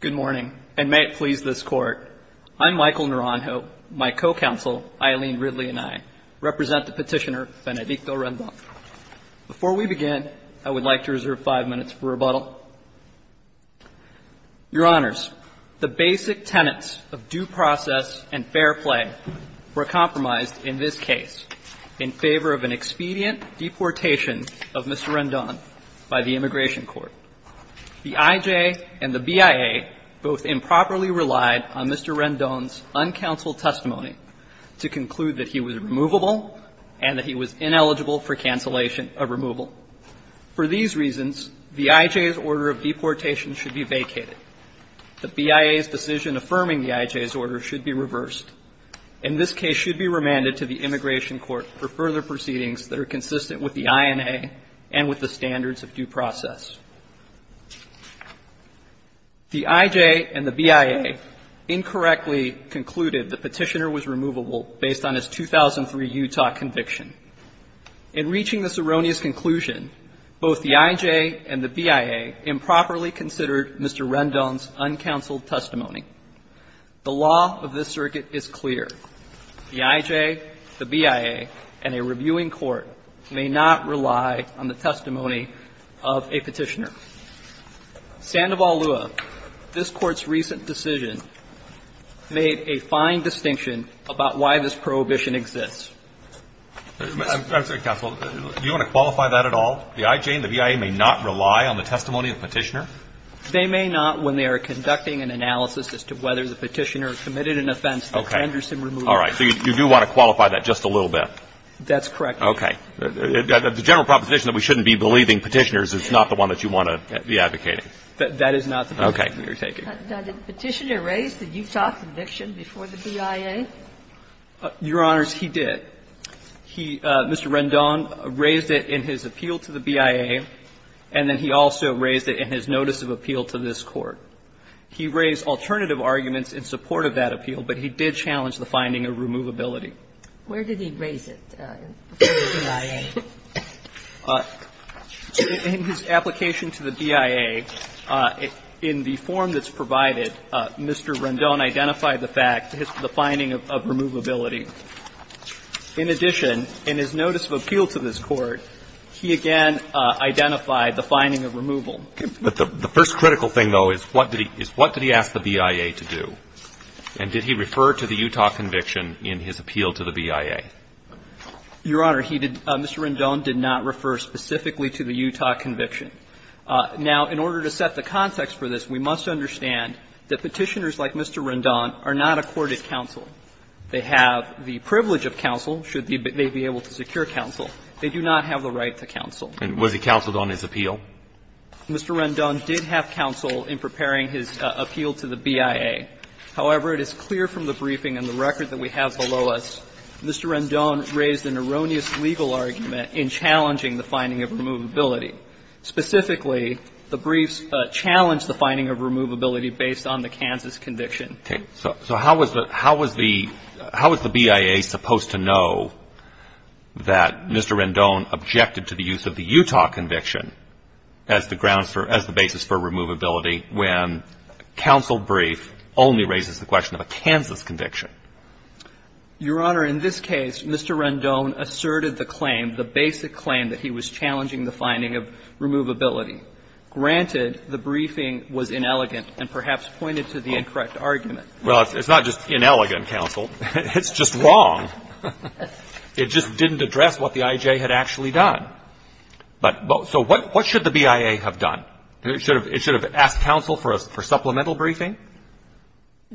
Good morning, and may it please this Court, I'm Michael Naranjo, my co-counsel Eileen Ridley and I represent the petitioner Benedicto Rendon. Before we begin, I would like to reserve five minutes for rebuttal. Your Honors, the basic tenets of due process and fair play were compromised in this case in favor of an expedient deportation of Mr. Rendon by the Immigration Court. The IJ and the BIA both improperly relied on Mr. Rendon's uncounseled testimony to conclude that he was removable and that he was ineligible for cancellation of removal. For these reasons, the IJ's order of deportation should be vacated. The BIA's decision affirming the IJ's order should be reversed. And this case should be remanded to the Immigration Court for further proceedings that are consistent with the INA and with the standards of due process. The IJ and the BIA incorrectly concluded the petitioner was removable based on his 2003 Utah conviction. In reaching this erroneous conclusion, both the IJ and the BIA improperly considered Mr. Rendon's uncounseled testimony. The law of this circuit is clear. The IJ, the BIA, and a reviewing court may not rely on the testimony of a petitioner. Sandoval Lua, this Court's recent decision made a fine distinction about why this prohibition exists. I'm sorry, Counsel. Do you want to qualify that at all? The IJ and the BIA may not rely on the testimony of the petitioner? They may not when they are conducting an analysis as to whether the petitioner committed an offense that Henderson removed. Okay. All right. So you do want to qualify that just a little bit? That's correct, Your Honor. Okay. The general proposition that we shouldn't be believing petitioners is not the one that you want to be advocating. That is not the position we are taking. Okay. Now, did the petitioner raise the Utah conviction before the BIA? Your Honors, he did. He, Mr. Rendon, raised it in his appeal to the BIA, and then he also raised it in his notice of appeal to this Court. He raised alternative arguments in support of that appeal, but he did challenge the finding of removability. Where did he raise it before the BIA? In his application to the BIA, in the form that's provided, Mr. Rendon identified the fact, the finding of removability. In addition, in his notice of appeal to this Court, he again identified the finding of removal. Okay. But the first critical thing, though, is what did he ask the BIA to do? And did he refer to the Utah conviction in his appeal to the BIA? Your Honor, he did. Mr. Rendon did not refer specifically to the Utah conviction. Now, in order to set the context for this, we must understand that petitioners like Mr. Rendon are not accorded counsel. They have the privilege of counsel, should they be able to secure counsel. They do not have the right to counsel. And was he counseled on his appeal? Mr. Rendon did have counsel in preparing his appeal to the BIA. However, it is clear from the briefing and the record that we have below us, Mr. Rendon raised an erroneous legal argument in challenging the finding of removability. Specifically, the briefs challenged the finding of removability based on the Kansas conviction. Okay. So how was the BIA supposed to know that Mr. Rendon objected to the use of the Utah conviction as the basis for removability when counsel brief only raises the question of a Kansas conviction? Your Honor, in this case, Mr. Rendon asserted the claim, the basic claim, that he was challenging the finding of removability. Granted, the briefing was inelegant and perhaps pointed to the incorrect argument. Well, it's not just inelegant, counsel. It's just wrong. It just didn't address what the IJ had actually done. But so what should the BIA have done? It should have asked counsel for supplemental briefing?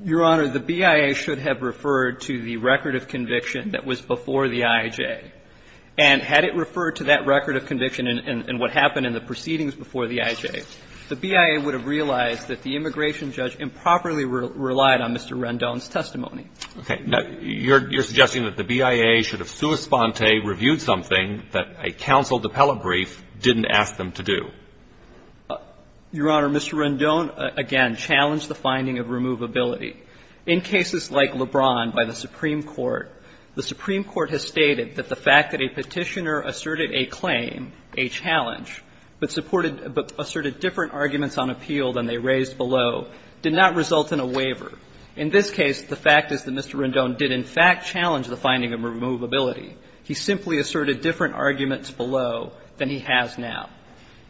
Your Honor, the BIA should have referred to the record of conviction that was before the IJ. And had it referred to that record of conviction and what happened in the proceedings before the IJ, the BIA would have realized that the immigration judge improperly relied on Mr. Rendon's testimony. Okay. You're suggesting that the BIA should have sua sponte reviewed something that a counsel appellate brief didn't ask them to do. Your Honor, Mr. Rendon, again, challenged the finding of removability. In cases like LeBron by the Supreme Court, the Supreme Court has stated that the fact that a petitioner asserted a claim, a challenge, but supported — but asserted different arguments on appeal than they raised below did not result in a waiver. In this case, the fact is that Mr. Rendon did in fact challenge the finding of removability. He simply asserted different arguments below than he has now.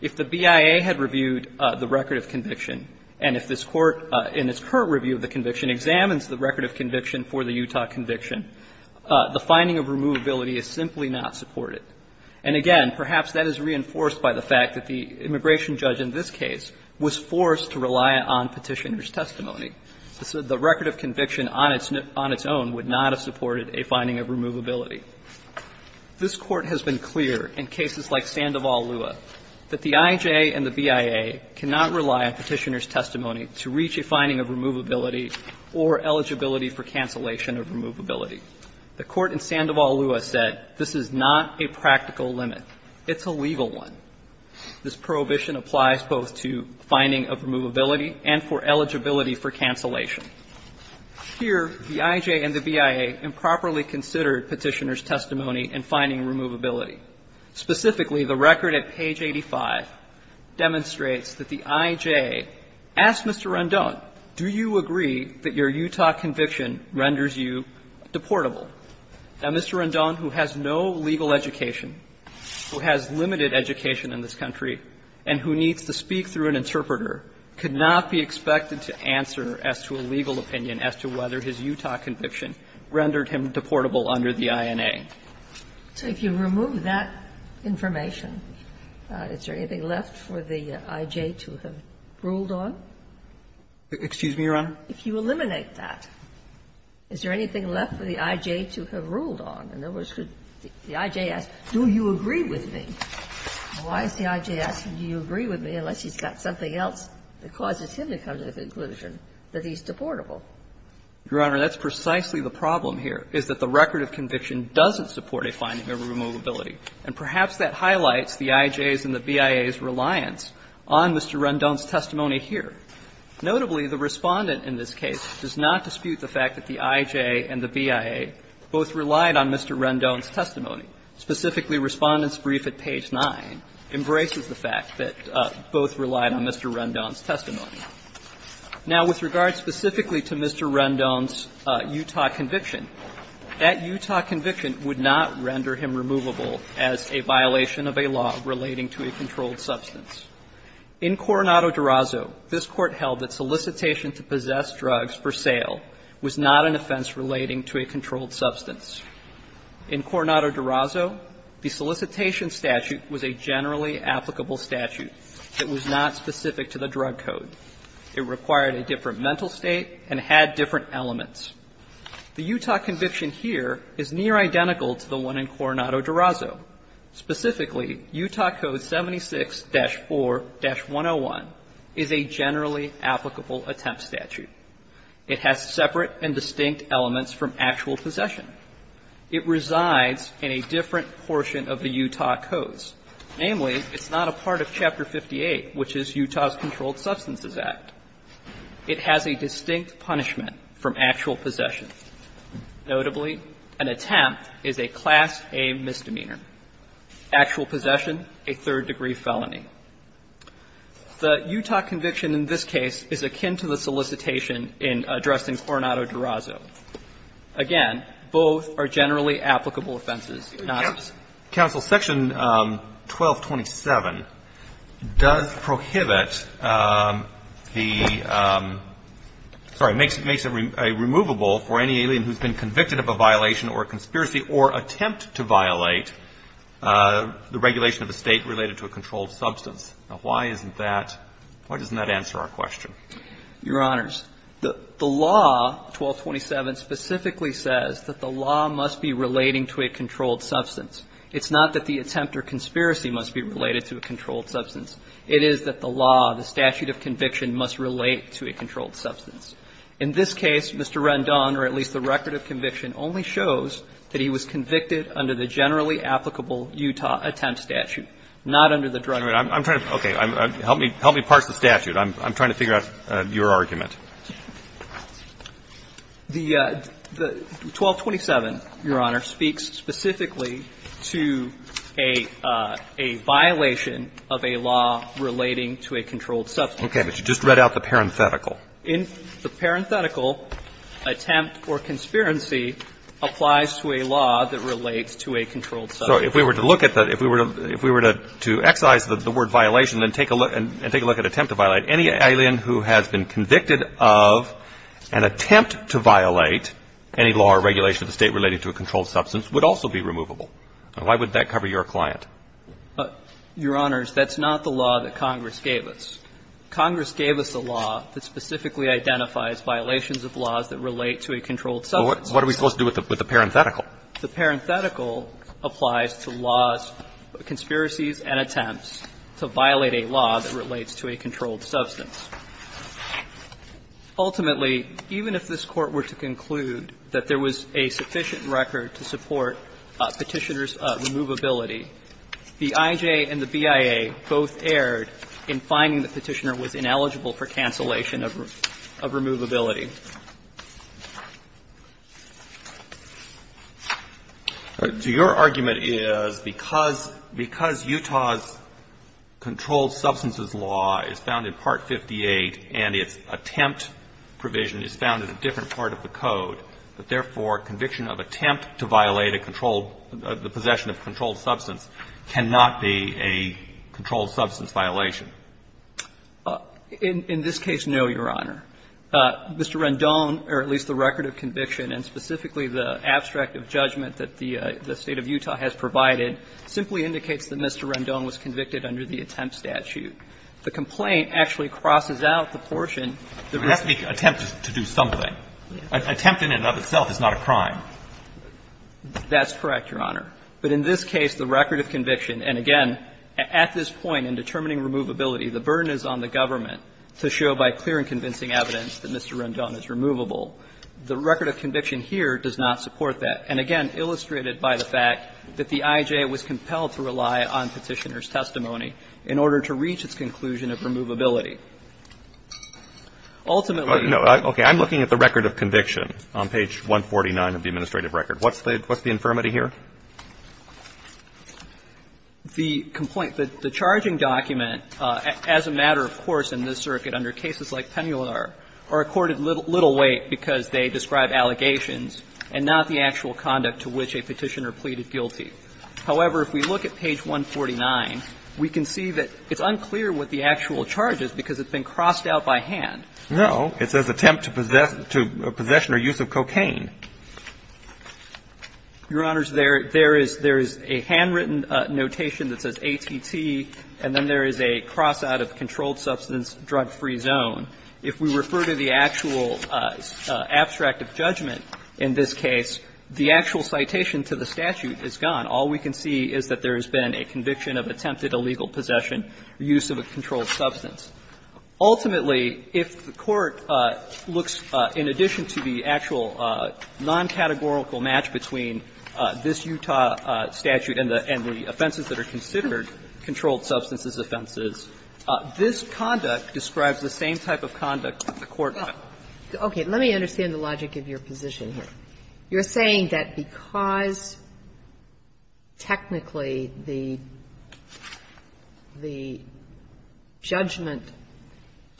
If the BIA had reviewed the record of conviction, and if this Court, in its current review of the conviction, examines the record of conviction for the Utah conviction, the finding of removability is simply not supported. And again, perhaps that is reinforced by the fact that the immigration judge in this case was forced to rely on petitioner's testimony. The record of conviction on its own would not have supported a finding of removability. This Court has been clear in cases like Sandoval-Lua that the IJ and the BIA cannot rely on petitioner's testimony to reach a finding of removability or eligibility for cancellation of removability. The Court in Sandoval-Lua said this is not a practical limit. It's a legal one. This prohibition applies both to finding of removability and for eligibility for cancellation. Here, the IJ and the BIA improperly considered petitioner's testimony in finding removability. Specifically, the record at page 85 demonstrates that the IJ asked Mr. Rendon, do you agree that your Utah conviction renders you deportable? Now, Mr. Rendon, who has no legal education, who has limited education in this country, and who needs to speak through an interpreter, could not be expected to answer as to a legal opinion as to whether his Utah conviction rendered him deportable under the INA. So if you remove that information, is there anything left for the IJ to have ruled on? Excuse me, Your Honor? If you eliminate that, is there anything left for the IJ to have ruled on? In other words, could the IJ ask, do you agree with me? Why is the IJ asking, do you agree with me, unless he's got something else that causes him to come to the conclusion that he's deportable? Your Honor, that's precisely the problem here, is that the record of conviction doesn't support a finding of removability. And perhaps that highlights the IJ's and the BIA's reliance on Mr. Rendon's testimony here. Notably, the Respondent in this case does not dispute the fact that the IJ and the BIA both relied on Mr. Rendon's testimony. Specifically, Respondent's brief at page 9 embraces the fact that both relied on Mr. Rendon's testimony. Now, with regard specifically to Mr. Rendon's Utah conviction, that Utah conviction would not render him removable as a violation of a law relating to a controlled substance. In Coronado-Durazo, this Court held that solicitation to possess drugs for sale was not an offense relating to a controlled substance. In Coronado-Durazo, the solicitation statute was a generally applicable statute. It was not specific to the drug code. It required a different mental state and had different elements. The Utah conviction here is near identical to the one in Coronado-Durazo. Specifically, Utah Code 76-4-101 is a generally applicable attempt statute. It has separate and distinct elements from actual possession. It resides in a different portion of the Utah codes. Namely, it's not a part of Chapter 58, which is Utah's Controlled Substances Act. It has a distinct punishment from actual possession. Notably, an attempt is a Class A misdemeanor. Actual possession, a third degree felony. The Utah conviction in this case is akin to the solicitation in addressing Coronado-Durazo. Again, both are generally applicable offenses, not. Counsel, Section 1227 does prohibit the – sorry, makes it removable for any alien who's been convicted of a violation or a conspiracy or attempt to violate the regulation of a state related to a controlled substance. Now, why isn't that – why doesn't that answer our question? Your Honors, the law 1227 specifically says that the law must be relating to a controlled substance. It's not that the attempt or conspiracy must be related to a controlled substance. It is that the law, the statute of conviction, must relate to a controlled substance. In this case, Mr. Rendon, or at least the record of conviction, only shows that he was convicted under the generally applicable Utah attempt statute, not under the drug – Okay. I'm trying to – okay. Help me parse the statute. I'm trying to figure out your argument. The 1227, Your Honor, speaks specifically to a violation of a law relating to a controlled substance. Okay. But you just read out the parenthetical. The parenthetical, attempt or conspiracy, applies to a law that relates to a controlled substance. So if we were to look at the – if we were to excise the word violation and take it as an attempt to violate any law or regulation of the State relating to a controlled substance would also be removable. Why would that cover your client? Your Honors, that's not the law that Congress gave us. Congress gave us a law that specifically identifies violations of laws that relate to a controlled substance. Well, what are we supposed to do with the parenthetical? The parenthetical applies to laws, conspiracies and attempts to violate a law that relates to a controlled substance. Ultimately, even if this Court were to conclude that there was a sufficient record to support Petitioner's removability, the IJ and the BIA both erred in finding that Petitioner was ineligible for cancellation of removability. Your argument is because Utah's controlled substances law is found in Part 58 of the IJ, and its attempt provision is found in a different part of the code, that, therefore, conviction of attempt to violate a controlled – the possession of a controlled substance cannot be a controlled substance violation. In this case, no, Your Honor. Mr. Rendon, or at least the record of conviction, and specifically the abstract of judgment that the State of Utah has provided, simply indicates that Mr. Rendon was convicted under the attempt statute. The complaint actually crosses out the portion that was – But it has to be an attempt to do something. An attempt in and of itself is not a crime. That's correct, Your Honor. But in this case, the record of conviction, and again, at this point in determining removability, the burden is on the government to show by clear and convincing evidence that Mr. Rendon is removable. The record of conviction here does not support that. And again, illustrated by the fact that the IJ was compelled to rely on Petitioner's testimony in order to reach its conclusion of removability. Ultimately – No. Okay. I'm looking at the record of conviction on page 149 of the administrative record. What's the – what's the infirmity here? The complaint – the charging document, as a matter, of course, in this circuit under cases like Pennular, are accorded little weight because they describe allegations and not the actual conduct to which a Petitioner pleaded guilty. However, if we look at page 149, we can see that it's unclear what the actual charge is because it's been crossed out by hand. No. It says attempt to possess – to possession or use of cocaine. Your Honors, there – there is – there is a handwritten notation that says ATT, and then there is a cross out of controlled substance, drug-free zone. If we refer to the actual abstract of judgment in this case, the actual citation to the statute is gone. All we can see is that there has been a conviction of attempted illegal possession or use of a controlled substance. Ultimately, if the Court looks, in addition to the actual non-categorical match between this Utah statute and the – and the offenses that are considered controlled substances offenses, this conduct describes the same type of conduct that the Court had. Okay. Let me understand the logic of your position here. You're saying that because technically the – the judgment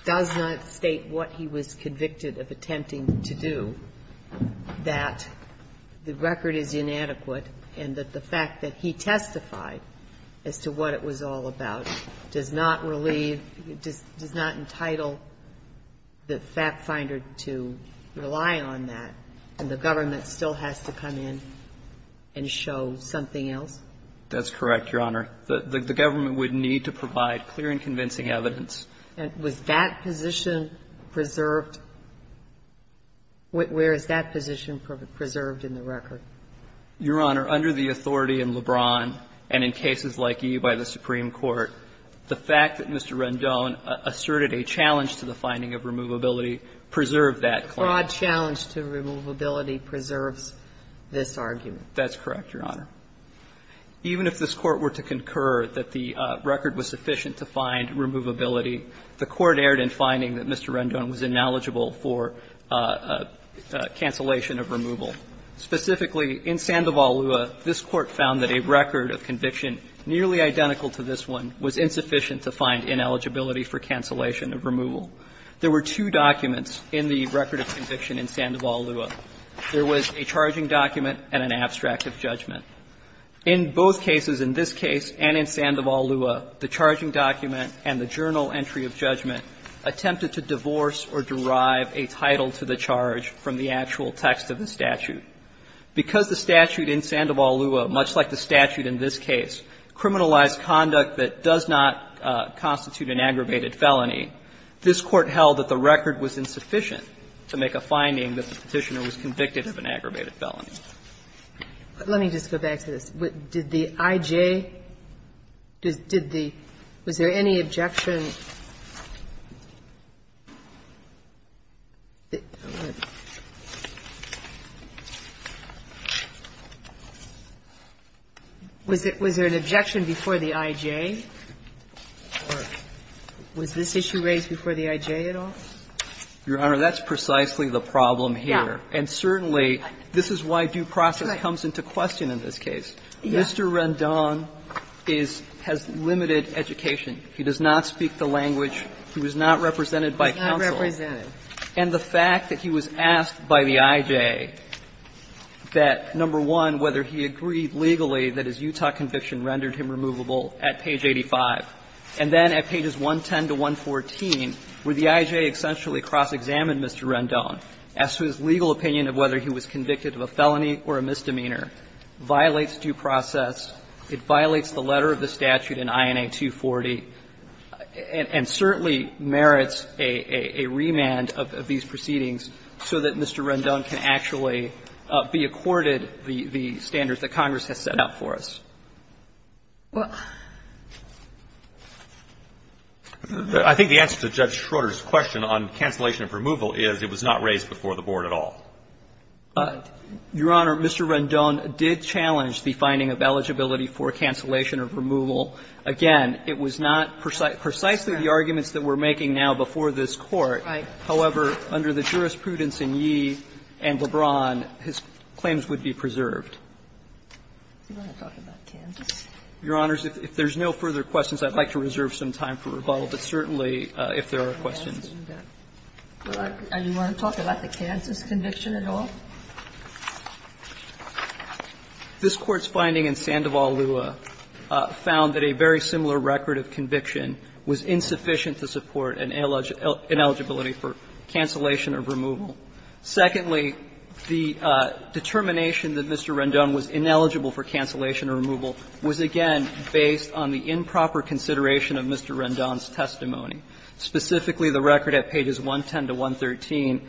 does not state what he was convicted of attempting to do, that the record is inadequate and that the fact that he testified as to what it was all about does not relieve – does not entitle the fact finder to rely on that, and the government still has to come in and show something else? That's correct, Your Honor. The government would need to provide clear and convincing evidence. And was that position preserved – where is that position preserved in the record? Your Honor, under the authority in Lebron and in cases like E by the Supreme Court, the fact that Mr. Rendon asserted a challenge to the finding of removability preserved that claim. Fraud challenge to removability preserves this argument. That's correct, Your Honor. Even if this Court were to concur that the record was sufficient to find removability, the Court erred in finding that Mr. Rendon was ineligible for cancellation of removal. Specifically, in Sandoval-Lua, this Court found that a record of conviction nearly identical to this one was insufficient to find ineligibility for cancellation of removal. There were two documents in the record of conviction in Sandoval-Lua. There was a charging document and an abstract of judgment. In both cases, in this case and in Sandoval-Lua, the charging document and the journal entry of judgment attempted to divorce or derive a title to the charge from the actual text of the statute. Because the statute in Sandoval-Lua, much like the statute in this case, criminalized conduct that does not constitute an aggravated felony, this Court held that the record was insufficient to make a finding that the Petitioner was convicted of an aggravated felony. Let me just go back to this. Did the IJ, did the – was there any objection? Was there an objection before the IJ? Or was this issue raised before the IJ at all? Your Honor, that's precisely the problem here. And certainly, this is why due process comes into question in this case. Mr. Rendon is – has limited education. He does not speak the language. He was not represented by counsel. And the fact that he was asked by the IJ that, number one, whether he agreed legally that his Utah conviction rendered him removable at page 85, and then at pages 110 to 114, where the IJ essentially cross-examined Mr. Rendon, asked for his legal opinion of whether he was convicted of a felony or a misdemeanor, violates due process. It violates the letter of the statute in INA 240 and certainly merits a remand of these proceedings so that Mr. Rendon can actually be accorded the standards that Congress has set out for us. I think the answer to Judge Schroder's question on cancellation of removal is it was not raised before the Board at all. Your Honor, Mr. Rendon did challenge the finding of eligibility for cancellation of removal. Again, it was not precisely the arguments that we're making now before this Court. However, under the jurisprudence in Yee and LeBron, his claims would be preserved. Your Honors, if there's no further questions, I'd like to reserve some time for rebuttal, but certainly if there are questions. Do you want to talk about the Kansas conviction at all? This Court's finding in Sandoval-Lua found that a very similar record of conviction was insufficient to support an ineligibility for cancellation of removal. Secondly, the determination that Mr. Rendon was ineligible for cancellation of removal was, again, based on the improper consideration of Mr. Rendon's testimony, specifically the record at pages 110 to 113.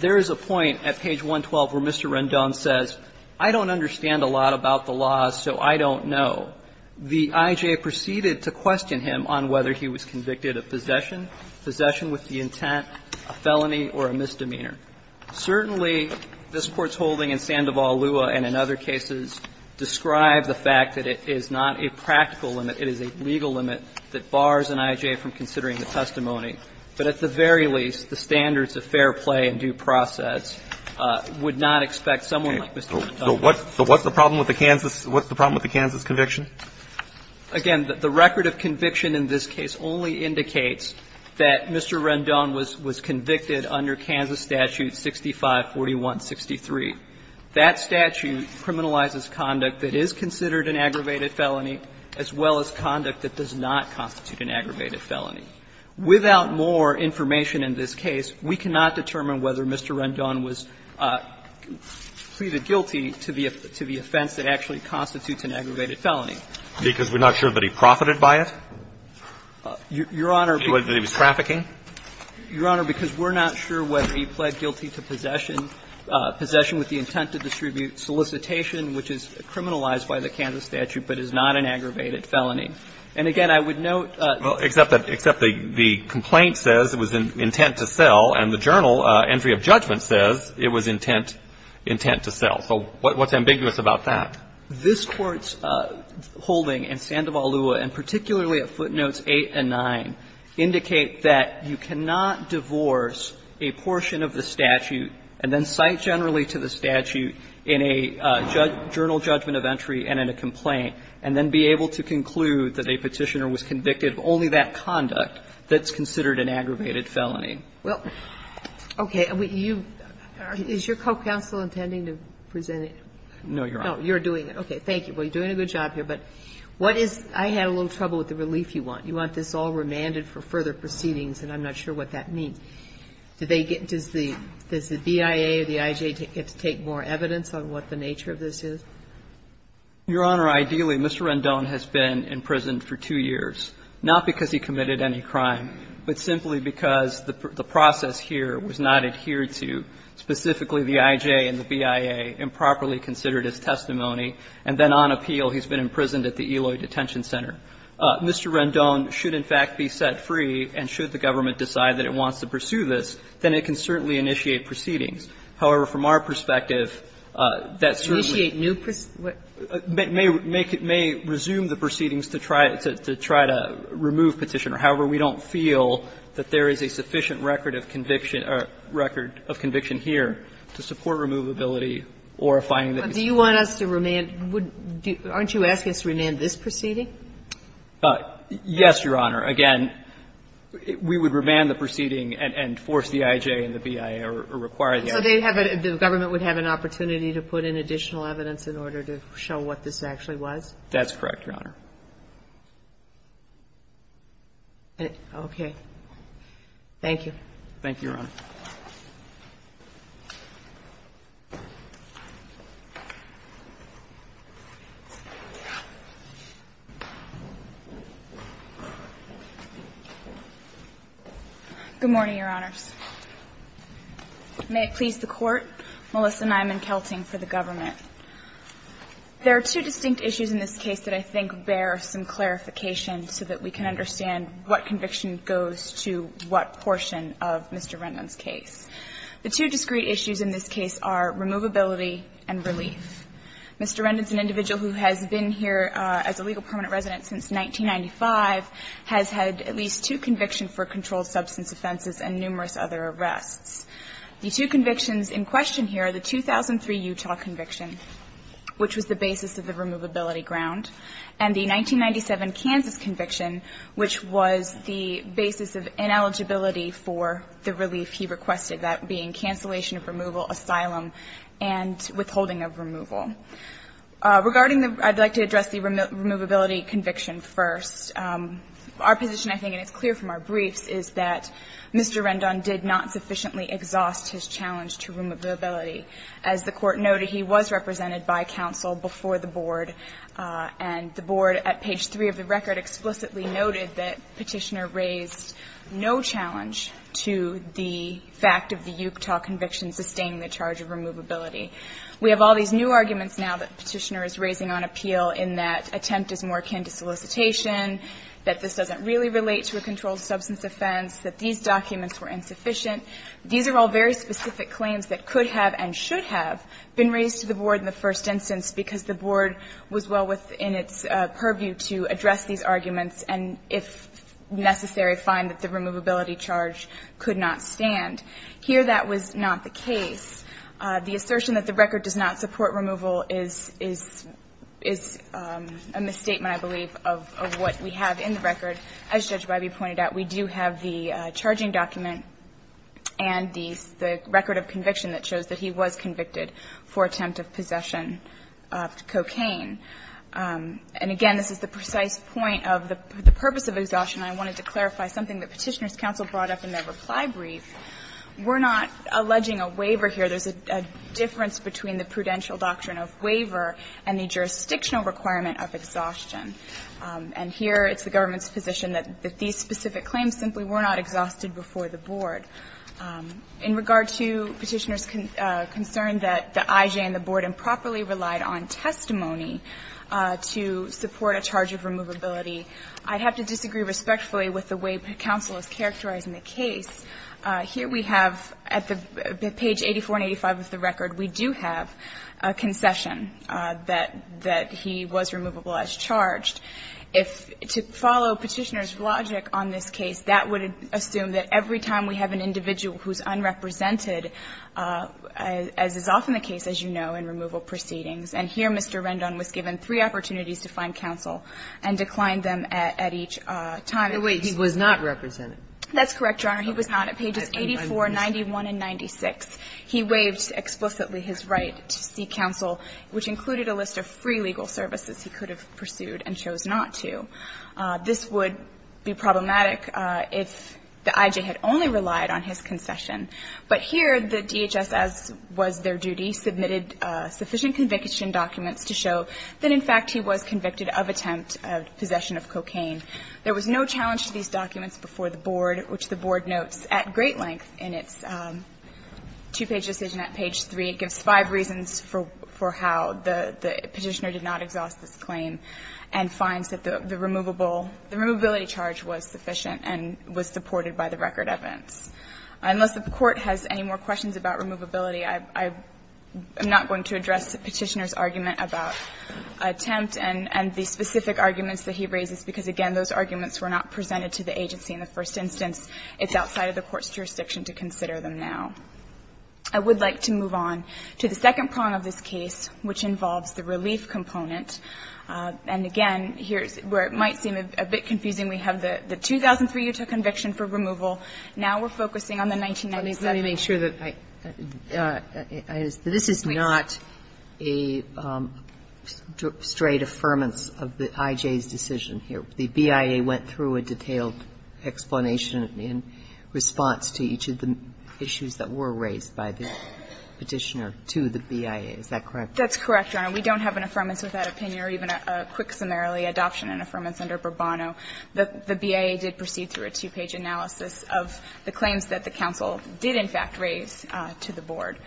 There is a point at page 112 where Mr. Rendon says, I don't understand a lot about the law, so I don't know. The IJ proceeded to question him on whether he was convicted of possession, possession with the intent, a felony or a misdemeanor. Certainly, this Court's holding in Sandoval-Lua and in other cases describe the fact that it is not a practical limit, it is a legal limit that bars an IJ from considering the testimony, but at the very least, the standards of fair play and due process would not expect someone like Mr. Rendon. So what's the problem with the Kansas conviction? Again, the record of conviction in this case only indicates that Mr. Rendon was convicted under Kansas Statute 654163. That statute criminalizes conduct that is considered an aggravated felony as well as conduct that does not constitute an aggravated felony. Without more information in this case, we cannot determine whether Mr. Rendon was pleaded guilty to the offense that actually constitutes an aggravated felony. Because we're not sure that he profited by it? Your Honor, because we're not sure whether he pled guilty to possession, possession with the intent to distribute solicitation, which is criminalized by the Kansas statute, but is not an aggravated felony. And again, I would note that the complaint says it was intent to sell, and the journal entry of judgment says it was intent to sell. So what's ambiguous about that? This Court's holding in Sandoval-Lua, and particularly at footnotes 8 and 9, indicate that you cannot divorce a portion of the statute and then cite generally to the statute in a journal judgment of entry and in a complaint, and then be able to conclude that a Petitioner was convicted of only that conduct that's considered an aggravated felony. Is your co-counsel intending to present it? No, Your Honor. No, you're doing it. Okay. Thank you. Well, you're doing a good job here, but what is the relief you want? You want this all remanded for further proceedings, and I'm not sure what that means. Do they get to see the BIA or the IJ get to take more evidence on what the nature of this is? Your Honor, ideally, Mr. Rendon has been in prison for two years, not because he committed any crime, but simply because the process here was not adhered to. Specifically, the IJ and the BIA improperly considered his testimony, and then on appeal he's been imprisoned at the Eloy Detention Center. Mr. Rendon should, in fact, be set free, and should the government decide that it wants to pursue this, then it can certainly initiate proceedings. However, from our perspective, that certainly may resume the proceedings to try to remove Petitioner. However, we don't feel that there is a sufficient record of conviction here to support removability or a finding that he's guilty. But do you want us to remand – aren't you asking us to remand this proceeding? Yes, Your Honor. Again, we would remand the proceeding and force the IJ and the BIA or require the IJ. So they would have a – the government would have an opportunity to put in additional evidence in order to show what this actually was? That's correct, Your Honor. Okay. Thank you. Thank you, Your Honor. Good morning, Your Honors. May it please the Court, Melissa Nyman-Kelting for the government. There are two distinct issues in this case that I think bear some clarification so that we can understand what conviction goes to what portion of Mr. Rendon's case. The two discrete issues in this case are removability and relief. Mr. Rendon is an individual who has been here as a legal permanent resident since 1995, has had at least two convictions for controlled substance offenses and numerous other arrests. The two convictions in question here are the 2003 Utah conviction, which was the basis of the removability ground. And the 1997 Kansas conviction, which was the basis of ineligibility for the relief he requested, that being cancellation of removal, asylum, and withholding of removal. Regarding the – I'd like to address the removability conviction first. Our position, I think, and it's clear from our briefs, is that Mr. Rendon did not sufficiently exhaust his challenge to removability. As the Court noted, he was represented by counsel before the Board, and the Board at page 3 of the record explicitly noted that Petitioner raised no challenge to the fact of the Utah conviction sustaining the charge of removability. We have all these new arguments now that Petitioner is raising on appeal in that attempt is more akin to solicitation, that this doesn't really relate to a controlled substance offense, that these documents were insufficient. These are all very specific claims that could have and should have been raised to the Board in the first instance because the Board was well within its purview to address these arguments and, if necessary, find that the removability charge could not stand. Here, that was not the case. The assertion that the record does not support removal is a misstatement, I believe, of what we have in the record. As Judge Bybee pointed out, we do have the charging document and the record of conviction that shows that he was convicted for attempt of possession of cocaine. And, again, this is the precise point of the purpose of exhaustion. I wanted to clarify something that Petitioner's counsel brought up in their reply brief. We're not alleging a waiver here. There's a difference between the prudential doctrine of waiver and the jurisdictional requirement of exhaustion. And here, it's the government's position that these specific claims simply were not exhausted before the Board. In regard to Petitioner's concern that the IJ and the Board improperly relied on testimony to support a charge of removability, I'd have to disagree respectfully with the way counsel is characterizing the case. Here we have, at page 84 and 85 of the record, we do have a concession that he was not removable as charged. If to follow Petitioner's logic on this case, that would assume that every time we have an individual who's unrepresented, as is often the case, as you know, in removal proceedings. And here, Mr. Rendon was given three opportunities to find counsel and declined them at each time. And he was not represented. That's correct, Your Honor. He was not. At pages 84, 91, and 96, he waived explicitly his right to seek counsel, which included a list of free legal services. He could have pursued and chose not to. This would be problematic if the IJ had only relied on his concession. But here, the DHS, as was their duty, submitted sufficient conviction documents to show that, in fact, he was convicted of attempt of possession of cocaine. There was no challenge to these documents before the Board, which the Board notes at great length in its two-page decision at page 3. It gives five reasons for how the Petitioner did not exhaust this claim, and finds that the removable the removability charge was sufficient and was supported by the record evidence. Unless the Court has any more questions about removability, I'm not going to address Petitioner's argument about attempt and the specific arguments that he raises, because, again, those arguments were not presented to the agency in the first instance. It's outside of the Court's jurisdiction to consider them now. I would like to move on to the second prong of this case, which involves the relief component. And, again, here's where it might seem a bit confusing. We have the 2003 Utah conviction for removal. Now we're focusing on the 1997. Kagan. Ginsburg. I just want to make sure that this is not a straight affirmance of the IJ's decision here. The BIA went through a detailed explanation in response to each of the issues that were raised by the Petitioner to the BIA. Is that correct? That's correct, Your Honor. We don't have an affirmance without opinion or even a quick summarily adoption and affirmance under Bourbono. The BIA did proceed through a two-page analysis of the claims that the counsel did in fact raise to the board.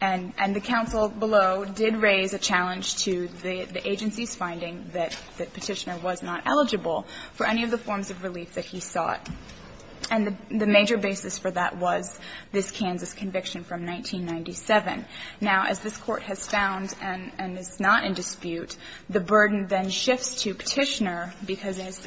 And the counsel below did raise a challenge to the agency's finding that Petitioner was not eligible for any of the forms of relief that he sought. And the major basis for that was this Kansas conviction from 1997. Now, as this Court has found and is not in dispute, the burden then shifts to Petitioner, because as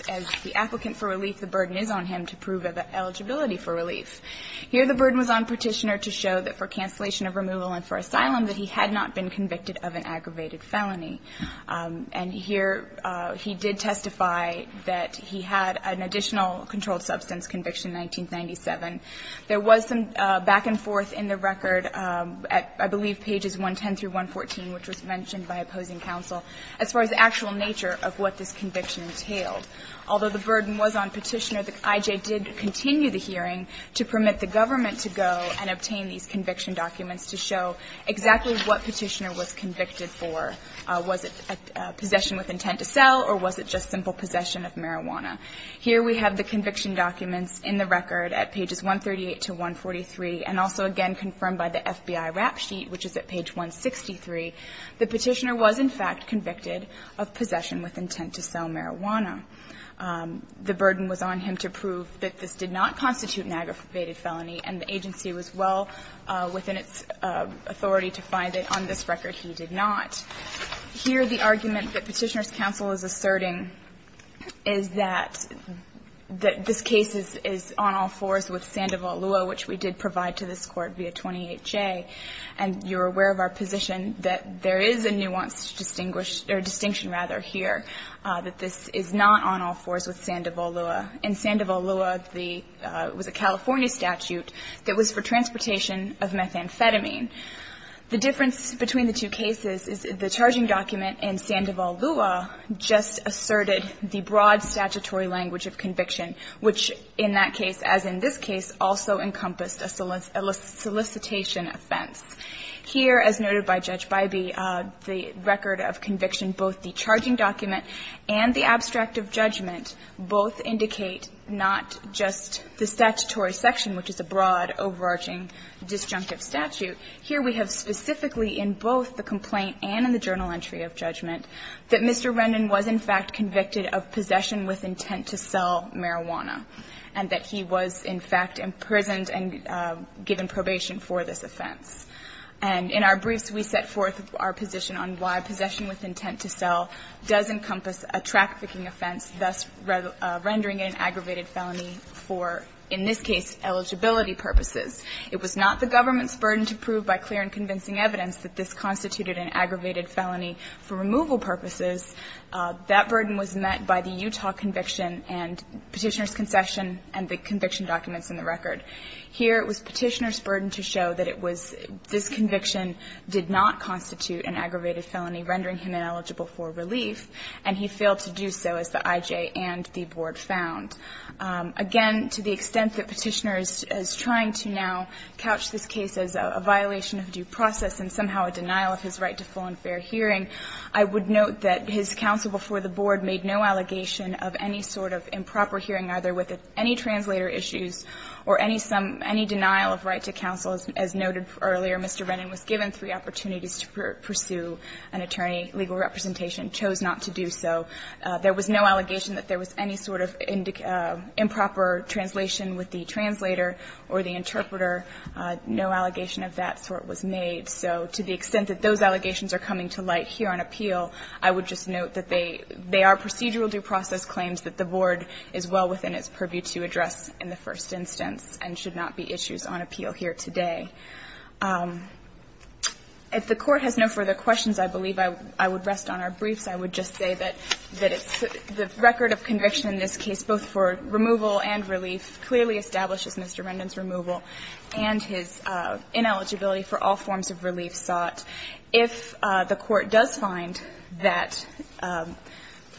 the applicant for relief, the burden is on him to prove eligibility for relief. Here the burden was on Petitioner to show that for cancellation of removal and for asylum that he had not been convicted of an aggravated felony. And here he did testify that he had an additional controlled substance conviction in 1997. There was some back and forth in the record at, I believe, pages 110 through 114, which was mentioned by opposing counsel, as far as the actual nature of what this conviction entailed. Although the burden was on Petitioner, the I.J. did continue the hearing to permit the government to go and obtain these conviction documents to show exactly what Petitioner was convicted for. Was it possession with intent to sell, or was it just simple possession of marijuana? Here we have the conviction documents in the record at pages 138 to 143, and also again confirmed by the FBI RAP sheet, which is at page 163. The Petitioner was, in fact, convicted of possession with intent to sell marijuana. The burden was on him to prove that this did not constitute an aggravated felony. And the agency was well within its authority to find that on this record he did not. Here the argument that Petitioner's counsel is asserting is that this case is on all fours with Sandoval Lua, which we did provide to this Court via 28J. And you're aware of our position that there is a nuanced distinguished or distinction, rather, here, that this is not on all fours with Sandoval Lua. In Sandoval Lua, the – it was a California statute that was for transportation of methamphetamine. The difference between the two cases is the charging document in Sandoval Lua just asserted the broad statutory language of conviction, which in that case, as in this case, also encompassed a solicitation offense. Here, as noted by Judge Bybee, the record of conviction, both the charging document and the abstract of judgment both indicate not just the statutory section, which is a broad, overarching, disjunctive statute. Here we have specifically in both the complaint and in the journal entry of judgment that Mr. Rennan was in fact convicted of possession with intent to sell marijuana, and that he was in fact imprisoned and given probation for this offense. And in our briefs, we set forth our position on why possession with intent to sell does encompass a trafficking offense, thus rendering it an aggravated felony for, in this case, eligibility purposes. It was not the government's burden to prove by clear and convincing evidence that this constituted an aggravated felony for removal purposes. That burden was met by the Utah conviction and Petitioner's concession and the conviction documents in the record. Here, it was Petitioner's burden to show that it was – this conviction did not constitute an aggravated felony, rendering him ineligible for relief, and he failed to do so, as the IJ and the Board found. Again, to the extent that Petitioner is trying to now couch this case as a violation of due process and somehow a denial of his right to full and fair hearing, I would note that his counsel before the Board made no allegation of any sort of improper hearing, either with any translator issues or any some – any denial of right to counsel. As noted earlier, Mr. Rennan was given three opportunities to pursue an attorney. Legal representation chose not to do so. There was no allegation that there was any sort of improper translation with the translator or the interpreter. No allegation of that sort was made. So to the extent that those allegations are coming to light here on appeal, I would just note that they are procedural due process claims that the Board is well within its purview to address in the first instance and should not be issues on appeal here today. If the Court has no further questions, I believe I would rest on our briefs. I would just say that it's – the record of conviction in this case, both for removal and relief, clearly establishes Mr. Rennan's removal and his ineligibility for all forms of relief sought. If the Court does find that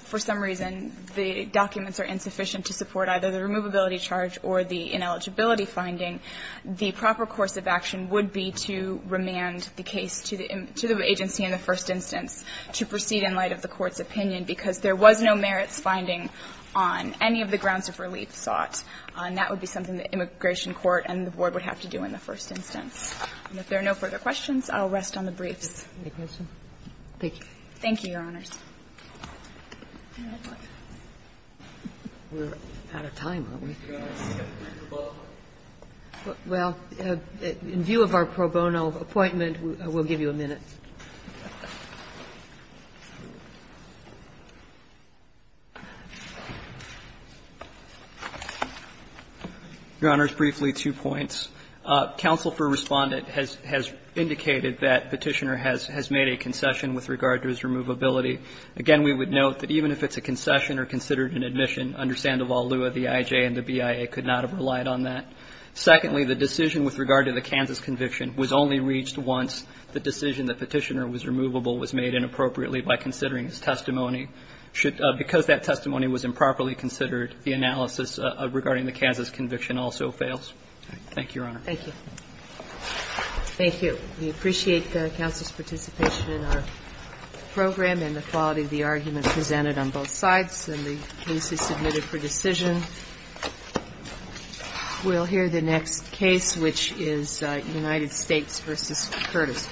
for some reason the documents are insufficient to support either the removability charge or the ineligibility finding, the proper course of action would be to remand the case to the agency in the first instance to proceed in light of the Court's opinion, because there was no merits finding on any of the grounds of relief sought. And that would be something that immigration court and the Board would have to do in the first instance. And if there are no further questions, I'll rest on the briefs. Roberts. Thank you. Thank you, Your Honors. We're out of time, aren't we? Well, in view of our pro bono appointment, we'll give you a minute. Your Honors, briefly, two points. Counsel for Respondent has indicated that Petitioner has made a concession with regard to his removability. Again, we would note that even if it's a concession or considered an admission, under Sandoval Lua, the IJ and the BIA could not have relied on that. Secondly, the decision with regard to the Kansas conviction was only reached once. The decision that Petitioner was removable was made inappropriately by considering his testimony. Because that testimony was improperly considered, the analysis regarding the Kansas conviction also fails. Thank you, Your Honor. Thank you. We appreciate the counsel's participation in our program and the quality of the argument presented on both sides. And the case is submitted for decision. We'll hear the next case, which is United States v. Curtis.